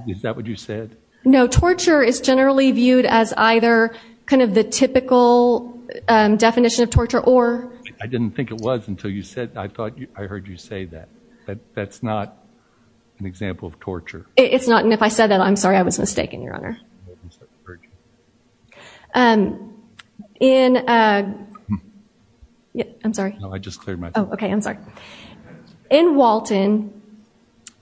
Is that what you said? No, torture is generally viewed as either kind of the typical definition of torture or... I didn't think it was until I heard you say that. But that's not an example of torture. It's not, and if I said that, I'm sorry, I was mistaken, Your Honor. I'm sorry. No, I just cleared my throat. Oh, okay, I'm sorry. In Walton,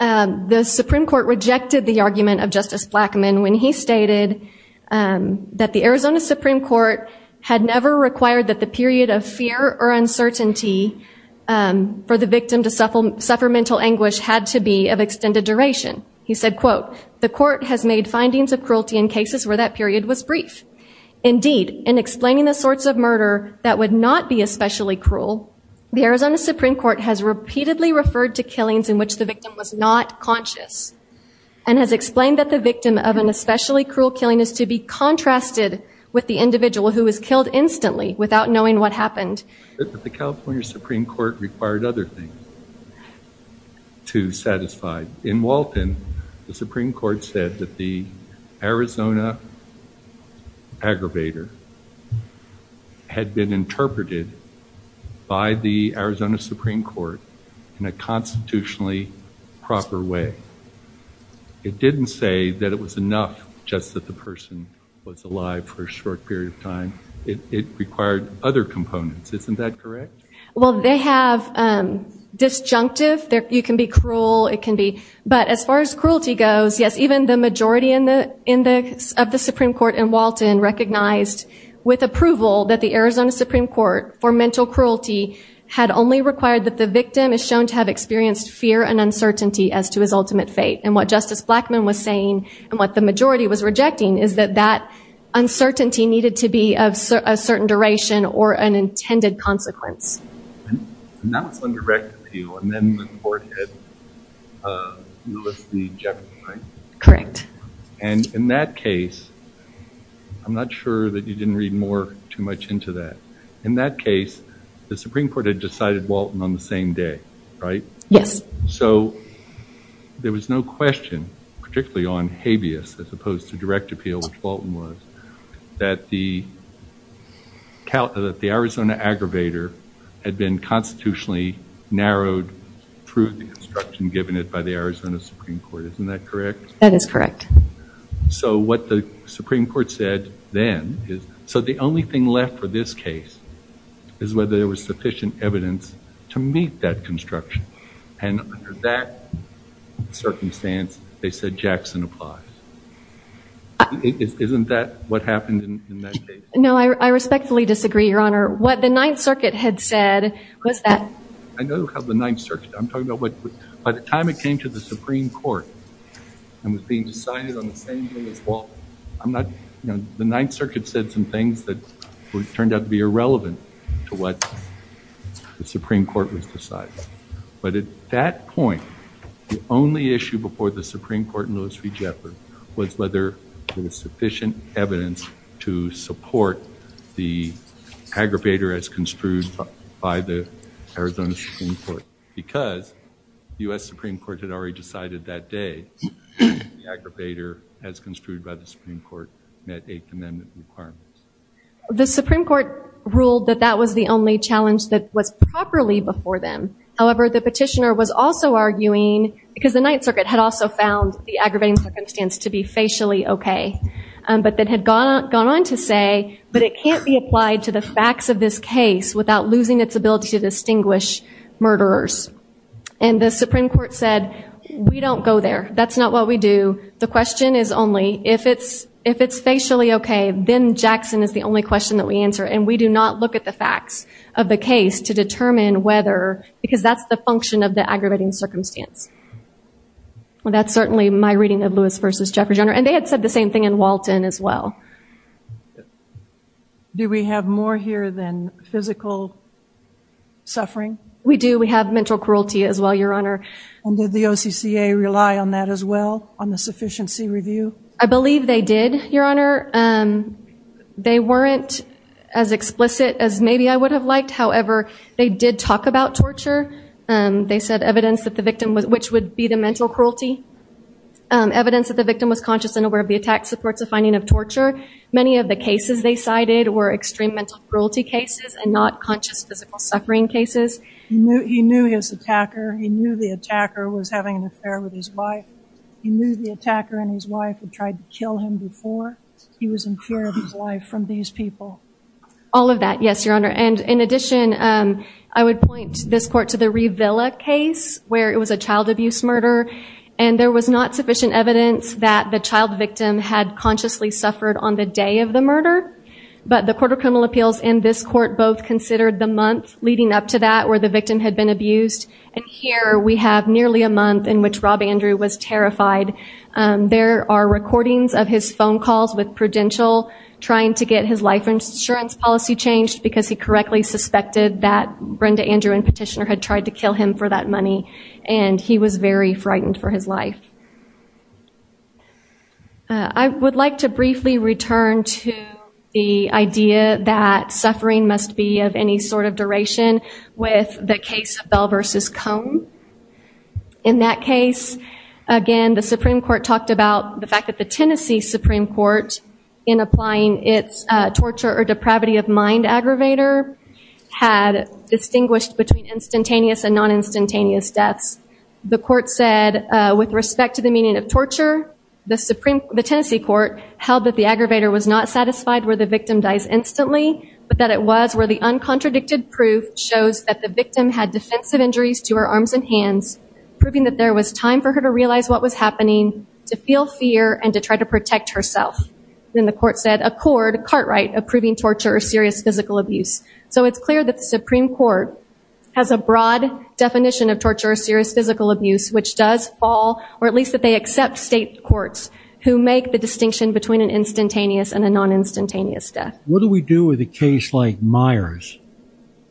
the Supreme Court rejected the argument of Justice Blackmun when he stated that the Arizona Supreme Court had never required that the period of fear or uncertainty for the victim to suffer mental anguish had to be of extended duration. He said, quote, The court has made findings of cruelty in cases where that period was brief. Indeed, in explaining the sorts of murder that would not be especially cruel, the Arizona Supreme Court has repeatedly referred to killings in which the victim was not conscious and has explained that the victim of an especially cruel killing is to be contrasted with the individual who was killed instantly without knowing what happened. The California Supreme Court required other things to satisfy. In Walton, the Supreme Court said that the Arizona aggravator had been interpreted by the Arizona Supreme Court in a constitutionally proper way. It didn't say that it was enough just that the person was alive for a short period of time. It required other components. Isn't that correct? Well, they have disjunctive. You can be cruel. It can be... But as far as cruelty goes, yes, even the majority of the Supreme Court in Walton recognized with approval that the Arizona Supreme Court for mental cruelty had only required that the victim is shown to have experienced fear and uncertainty as to his ultimate fate. And what Justice Blackmun was saying and what the majority was rejecting is that that uncertainty needed to be of a certain duration or an intended consequence. And that was on direct appeal. And then the court had... You listed the jeopardy, right? Correct. And in that case, I'm not sure that you didn't read more too much into that. In that case, the Supreme Court had decided Walton on the same day, right? Yes. So there was no question, particularly on habeas as opposed to direct appeal, which Walton was, that the Arizona aggravator had been constitutionally narrowed through the instruction given it by the Arizona Supreme Court. Isn't that correct? That is correct. So what the Supreme Court said then is... So the only thing left for this case is whether there was sufficient evidence to meet that construction. And under that circumstance, they said Jackson applies. Isn't that what happened in that case? No, I respectfully disagree, Your Honor. What the Ninth Circuit had said was that... I know how the Ninth Circuit... I'm talking about by the time it came to the Supreme Court and was being decided on the same day as Walton. The Ninth Circuit said some things that turned out to be irrelevant to what the Supreme Court was deciding. But at that point, the only issue before the Supreme Court in Louis v. Jeffords was whether there was sufficient evidence to support the aggravator as construed by the Arizona Supreme Court. Because the U.S. Supreme Court had already decided that day that the aggravator, as construed by the Supreme Court, met Eighth Amendment requirements. The Supreme Court ruled that that was the only challenge that was properly before them. However, the petitioner was also arguing... Because the Ninth Circuit had also found the aggravating circumstance to be facially okay. But it had gone on to say, but it can't be applied to the facts of this case without losing its ability to distinguish murderers. And the Supreme Court said, we don't go there. That's not what we do. The question is only, if it's facially okay, then Jackson is the only question that we answer. And we do not look at the facts of the case to determine whether... Because that's the function of the aggravating circumstance. That's certainly my reading of Louis v. Jeffords, Your Honor. And they had said the same thing in Walton as well. Do we have more here than physical suffering? We do. We have mental cruelty as well, Your Honor. And did the OCCA rely on that as well, on the sufficiency review? I believe they did, Your Honor. They weren't as explicit as maybe I would have liked. However, they did talk about torture. They said evidence that the victim was... which would be the mental cruelty. Evidence that the victim was conscious and aware of the attack supports the finding of torture. Many of the cases they cited were extreme mental cruelty cases and not conscious physical suffering cases. He knew his attacker. He knew the attacker was having an affair with his wife. He knew the attacker and his wife had tried to kill him before. He was in fear of his life from these people. All of that, yes, Your Honor. And in addition, I would point this court to the ReVilla case where it was a child abuse murder. And there was not sufficient evidence that the child victim had consciously suffered on the day of the murder. But the Court of Criminal Appeals and this court both considered the month leading up to that where the victim had been abused. And here we have nearly a month in which Rob Andrew was terrified. There are recordings of his phone calls with Prudential trying to get his life insurance policy changed because he correctly suspected that Brenda Andrew and Petitioner had tried to kill him for that money. And he was very frightened for his life. I would like to briefly return to the idea that suffering must be of any sort of duration with the case of Bell v. Combe. In that case, again, the Supreme Court talked about the fact that the Tennessee Supreme Court, in applying its torture or depravity of mind aggravator, had distinguished between instantaneous and non-instantaneous deaths. The court said, with respect to the meaning of torture, the Tennessee court held that the aggravator was not satisfied where the victim dies instantly, but that it was where the uncontradicted proof shows that the victim had defensive injuries to her arms and hands, proving that there was time for her to realize what was happening, to feel fear, and to try to protect herself. Then the court said, accord Cartwright approving torture or serious physical abuse. So it's clear that the Supreme Court has a broad definition of torture or serious physical abuse, which does fall, or at least that they accept state courts who make the distinction between an instantaneous and a non-instantaneous death. What do we do with a case like Myers,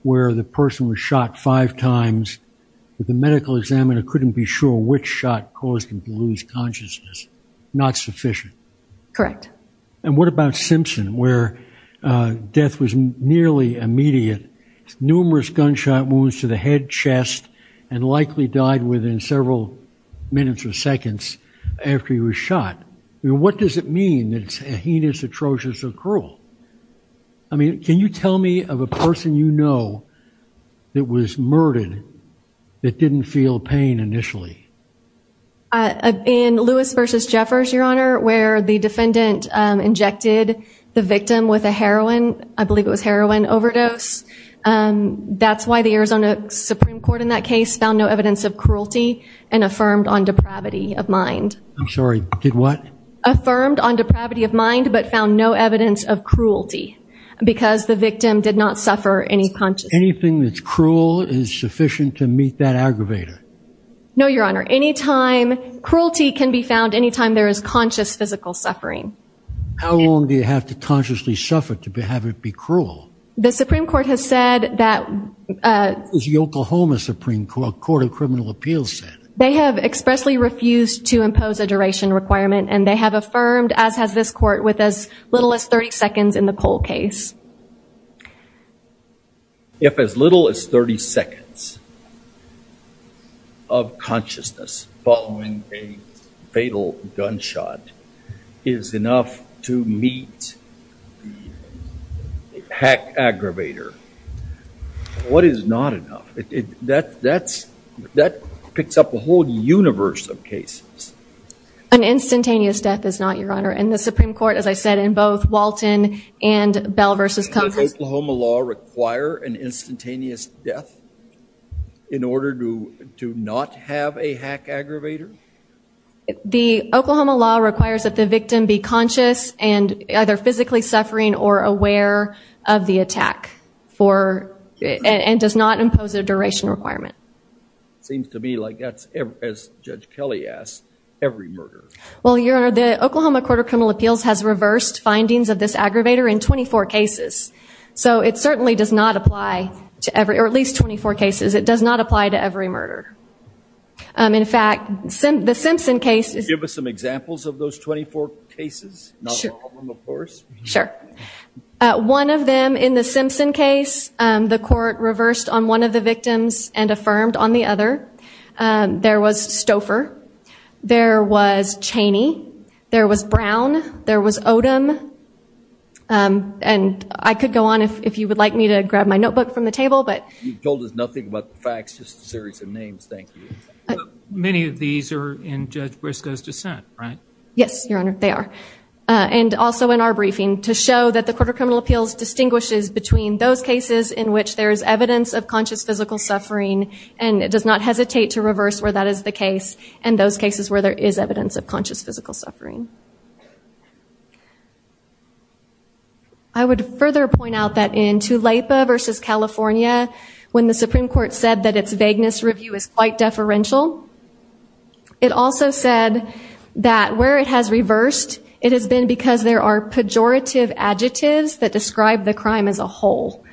where the person was shot five times, but the medical examiner couldn't be sure which shot caused him to lose consciousness? Not sufficient. Correct. And what about Simpson, where death was nearly immediate, numerous gunshot wounds to the head, chest, and likely died within several minutes or seconds after he was shot? I mean, what does it mean that it's heinous, atrocious, or cruel? I mean, can you tell me of a person you know that was murdered that didn't feel pain initially? In Lewis v. Jeffers, Your Honor, where the defendant injected the victim with a heroin, I believe it was heroin overdose, that's why the Arizona Supreme Court in that case found no evidence of cruelty and affirmed on depravity of mind. I'm sorry, did what? Affirmed on depravity of mind, but found no evidence of cruelty because the victim did not suffer any consciousness. Anything that's cruel is sufficient to meet that aggravator. No, Your Honor. Cruelty can be found any time there is conscious physical suffering. How long do you have to consciously suffer to have it be cruel? The Supreme Court has said that... That's what the Oklahoma Supreme Court of Criminal Appeals said. They have expressly refused to impose a duration requirement, and they have affirmed, as has this Court, with as little as 30 seconds in the Cole case. If as little as 30 seconds of consciousness following a fatal gunshot is enough to meet the hack aggravator, what is not enough? That picks up a whole universe of cases. An instantaneous death is not, Your Honor, and the Supreme Court, as I said, in both Walton and Bell v. Compton... Does Oklahoma law require an instantaneous death in order to not have a hack aggravator? The Oklahoma law requires that the victim be conscious and either physically suffering or aware of the attack and does not impose a duration requirement. Seems to me like that's, as Judge Kelly asked, every murder. Well, Your Honor, the Oklahoma Court of Criminal Appeals has reversed findings of this aggravator in 24 cases. So it certainly does not apply to every... or at least 24 cases. It does not apply to every murder. In fact, the Simpson case... Could you give us some examples of those 24 cases? Not all of them, of course. Sure. One of them, in the Simpson case, the court reversed on one of the victims and affirmed on the other. There was Stouffer. There was Chaney. There was Brown. There was Odom. And I could go on if you would like me to grab my notebook from the table, but... You've told us nothing about the facts, just a series of names, thank you. Many of these are in Judge Briscoe's dissent, right? Yes, Your Honor, they are. And also in our briefing, to show that the Court of Criminal Appeals distinguishes between those cases in which there is evidence of conscious physical suffering and does not hesitate to reverse where that is the case and those cases where there is evidence of conscious physical suffering. I would further point out that in Tulapa v. California, when the Supreme Court said that its vagueness review is quite deferential, it also said that where it has reversed, it has been because there are pejorative adjectives that describe the crime as a whole.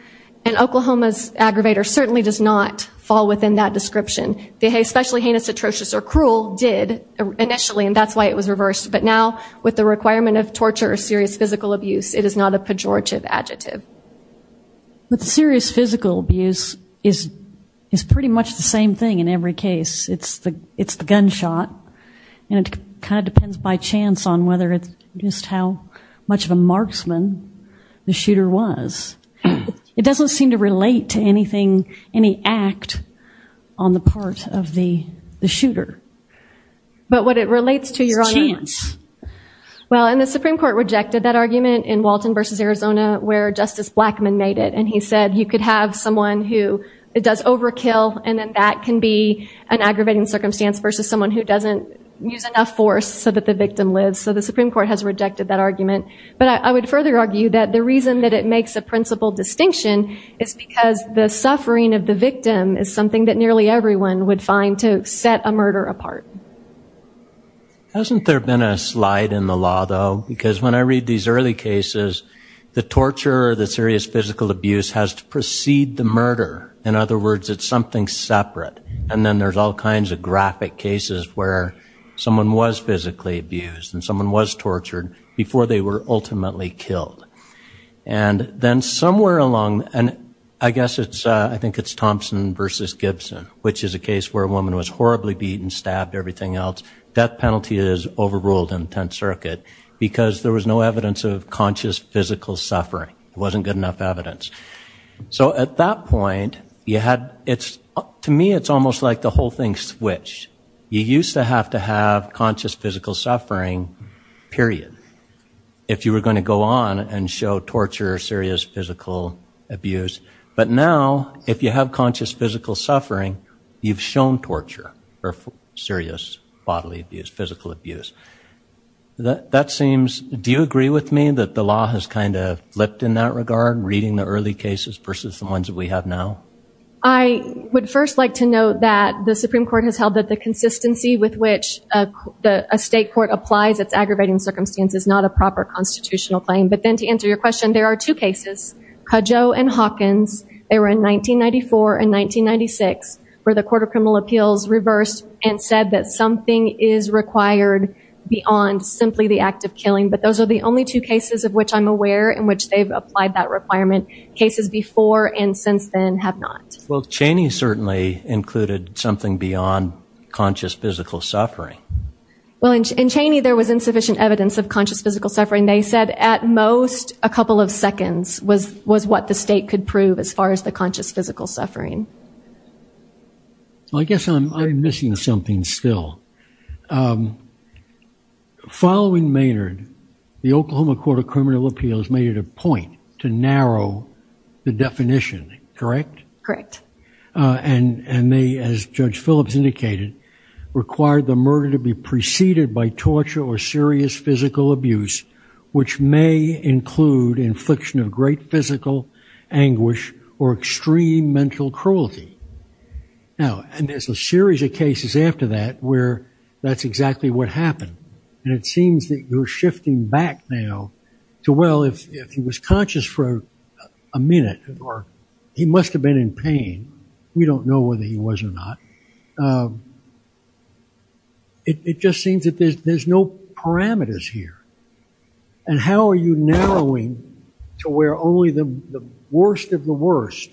And Oklahoma's aggravator certainly does not fall within that description. The especially heinous, atrocious, or cruel did initially, and that's why it was reversed. But now, with the requirement of torture or serious physical abuse, it is not a pejorative adjective. But serious physical abuse is pretty much the same thing in every case. It's the gunshot. And it kind of depends by chance on whether it's just how much of a marksman the shooter was. It doesn't seem to relate to anything, any act on the part of the shooter. But what it relates to, Your Honor... It's chance. Well, and the Supreme Court rejected that argument in Walton v. Arizona where Justice Blackmun made it, and he said you could have someone who does overkill and then that can be an aggravating circumstance versus someone who doesn't use enough force so that the victim lives. So the Supreme Court has rejected that argument. But I would further argue that the reason that it makes a principal distinction is because the suffering of the victim is something that nearly everyone would find to set a murder apart. Hasn't there been a slide in the law, though? Because when I read these early cases, the torture or the serious physical abuse has to precede the murder. In other words, it's something separate. And then there's all kinds of graphic cases where someone was physically abused and someone was tortured before they were ultimately killed. And then somewhere along... And I guess it's... I think it's Thompson v. Gibson, which is a case where a woman was horribly beaten, stabbed, everything else. Death penalty is overruled in the Tenth Circuit because there was no evidence of conscious physical suffering. It wasn't good enough evidence. So at that point, you had... To me, it's almost like the whole thing switched. You used to have to have conscious physical suffering, period, if you were going to go on and show torture or serious physical abuse. But now, if you have conscious physical suffering, you've shown torture or serious bodily abuse, physical abuse. That seems... Do you agree with me that the law has kind of flipped in that regard, reading the early cases versus the ones that we have now? I would first like to note that the Supreme Court has held that the consistency with which a state court applies its aggravating circumstances is not a proper constitutional claim. But then to answer your question, there are two cases, Cudjoe and Hawkins. They were in 1994 and 1996, where the Court of Criminal Appeals reversed and said that something is required beyond simply the act of killing. But those are the only two cases of which I'm aware in which they've applied that requirement. Cases before and since then have not. Well, Cheney certainly included something beyond conscious physical suffering. Well, in Cheney, there was insufficient evidence of conscious physical suffering. They said, at most, a couple of seconds was what the state could prove as far as the conscious physical suffering. Well, I guess I'm missing something still. Following Maynard, the Oklahoma Court of Criminal Appeals made it a point to narrow the definition, correct? Correct. And they, as Judge Phillips indicated, required the murder to be preceded by torture or serious physical abuse, which may include infliction of great physical anguish or extreme mental cruelty. Now, and there's a series of cases after that where that's exactly what happened. And it seems that you're shifting back now to, well, if he was conscious for a minute, or he must have been in pain. We don't know whether he was or not. It just seems that there's no parameters here. And how are you narrowing to where only the worst of the worst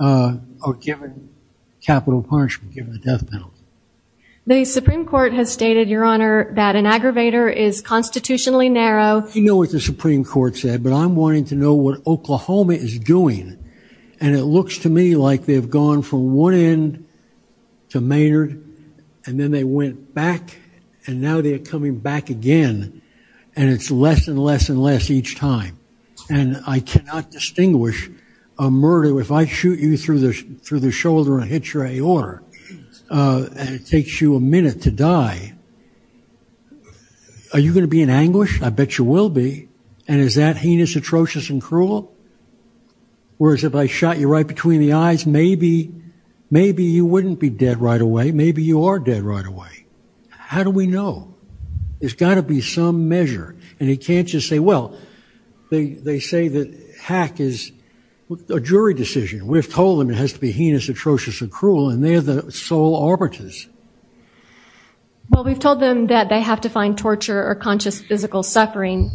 are given capital punishment, given the death penalty? The Supreme Court has stated, Your Honor, that an aggravator is constitutionally narrow. I know what the Supreme Court said, but I'm wanting to know what Oklahoma is doing. And it looks to me like they've gone from one end to Maynard, and then they went back, and now they're coming back again, and it's less and less and less each time. And I cannot distinguish a murder. If I shoot you through the shoulder and hit your aorta, and it takes you a minute to die, are you going to be in anguish? I bet you will be. And is that heinous, atrocious, and cruel? Whereas if I shot you right between the eyes, maybe you wouldn't be dead right away. Maybe you are dead right away. How do we know? There's got to be some measure. And you can't just say, Well, they say that hack is a jury decision. We've told them it has to be heinous, atrocious, and cruel, and they're the sole arbiters. Well, we've told them that they have to find torture or conscious physical suffering.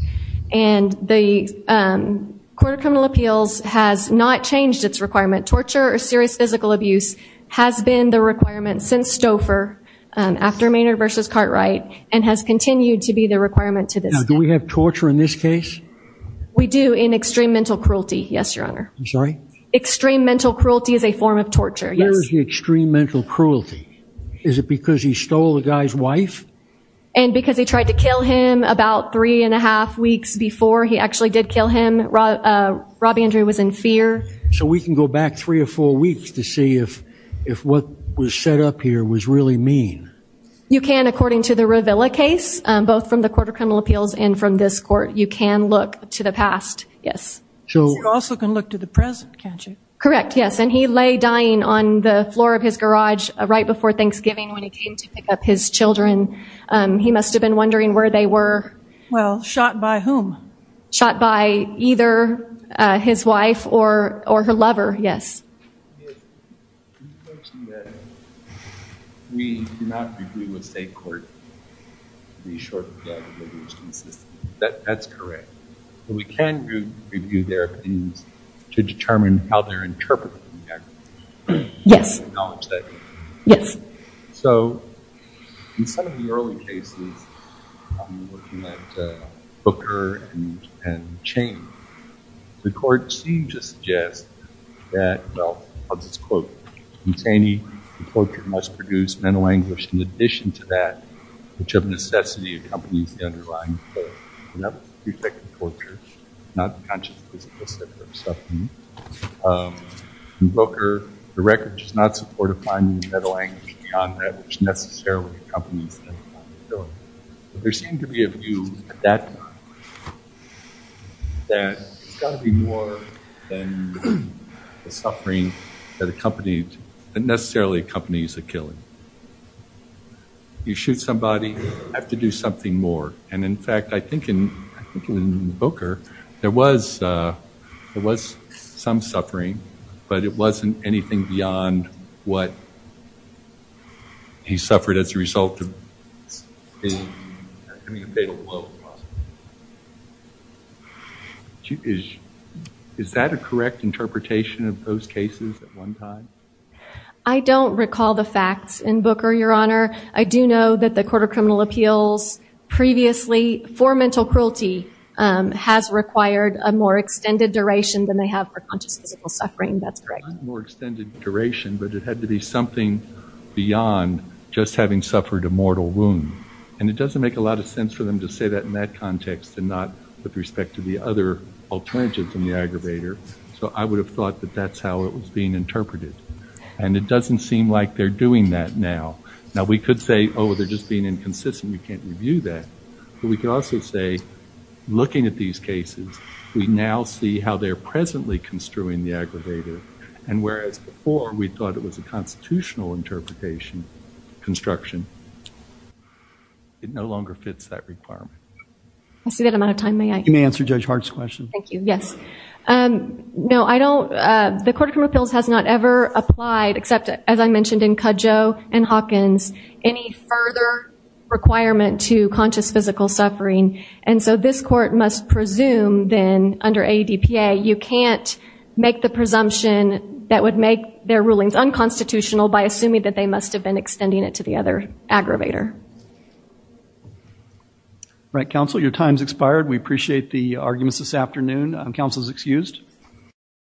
And the Court of Criminal Appeals has not changed its requirement. Torture or serious physical abuse has been the requirement since Stouffer, after Maynard v. Cartwright, and has continued to be the requirement to this day. Now, do we have torture in this case? We do, in extreme mental cruelty, yes, Your Honor. I'm sorry? Extreme mental cruelty is a form of torture, yes. Where is the extreme mental cruelty? Is it because he stole the guy's wife? And because he tried to kill him about three and a half weeks before he actually did kill him. Robby Andrew was in fear. So we can go back three or four weeks to see if what was set up here was really mean. You can, according to the Ravilla case, both from the Court of Criminal Appeals and from this court, you can look to the past, yes. You also can look to the present, can't you? Correct, yes. And he lay dying on the floor of his garage right before Thanksgiving when he came to pick up his children. He must have been wondering where they were. Well, shot by whom? Shot by either his wife or her lover, yes. Yes. The question that we do not agree with state court to be sure that the evidence is consistent. That's correct. But we can review their opinions to determine how they're interpreting the evidence. Yes. Yes. So in some of the early cases, looking at Booker and Chaney, the court seemed to suggest that, well, I'll just quote, in Chaney, the torture must produce mental anguish in addition to that which of necessity accompanies the underlying effect of torture, not conscious physical suffering. In Booker, the record does not support a finding of mental anguish beyond that which necessarily accompanies the killing. There seemed to be a view at that time that there's got to be more than the suffering that necessarily accompanies a killing. You shoot somebody, you have to do something more. And in fact, I think in Booker, there was some suffering, but it wasn't anything beyond what he suffered as a result of a fatal blow. Is that a correct interpretation of those cases at one time? I don't recall the facts in Booker, Your Honor. I do know that the Court of Criminal Appeals previously, for mental cruelty, has required a more extended duration than they have for conscious physical suffering, that's correct. More extended duration, but it had to be something beyond just having suffered a mortal wound. And it doesn't make a lot of sense for them to say that in that context and not with respect to the other alternatives in the aggravator, so I would have thought that that's how it was being interpreted. And it doesn't seem like they're doing that now. Now, we could say, oh, they're just being inconsistent, you can't review that. But we could also say, looking at these cases, we now see how they're presently construing the aggravator, and whereas before we thought it was a constitutional interpretation, construction, it no longer fits that requirement. I see that I'm out of time, may I? You may answer Judge Hart's question. Thank you, yes. No, I don't, the Court of Criminal Appeals has not ever applied, except, as I mentioned, in Cudjoe and Hawkins. Any further requirement to conscious physical suffering. And so this court must presume, then, under ADPA, you can't make the presumption that would make their rulings unconstitutional by assuming that they must have been extending it to the other aggravator. All right, counsel, your time's expired. We appreciate the arguments this afternoon. Counsel is excused.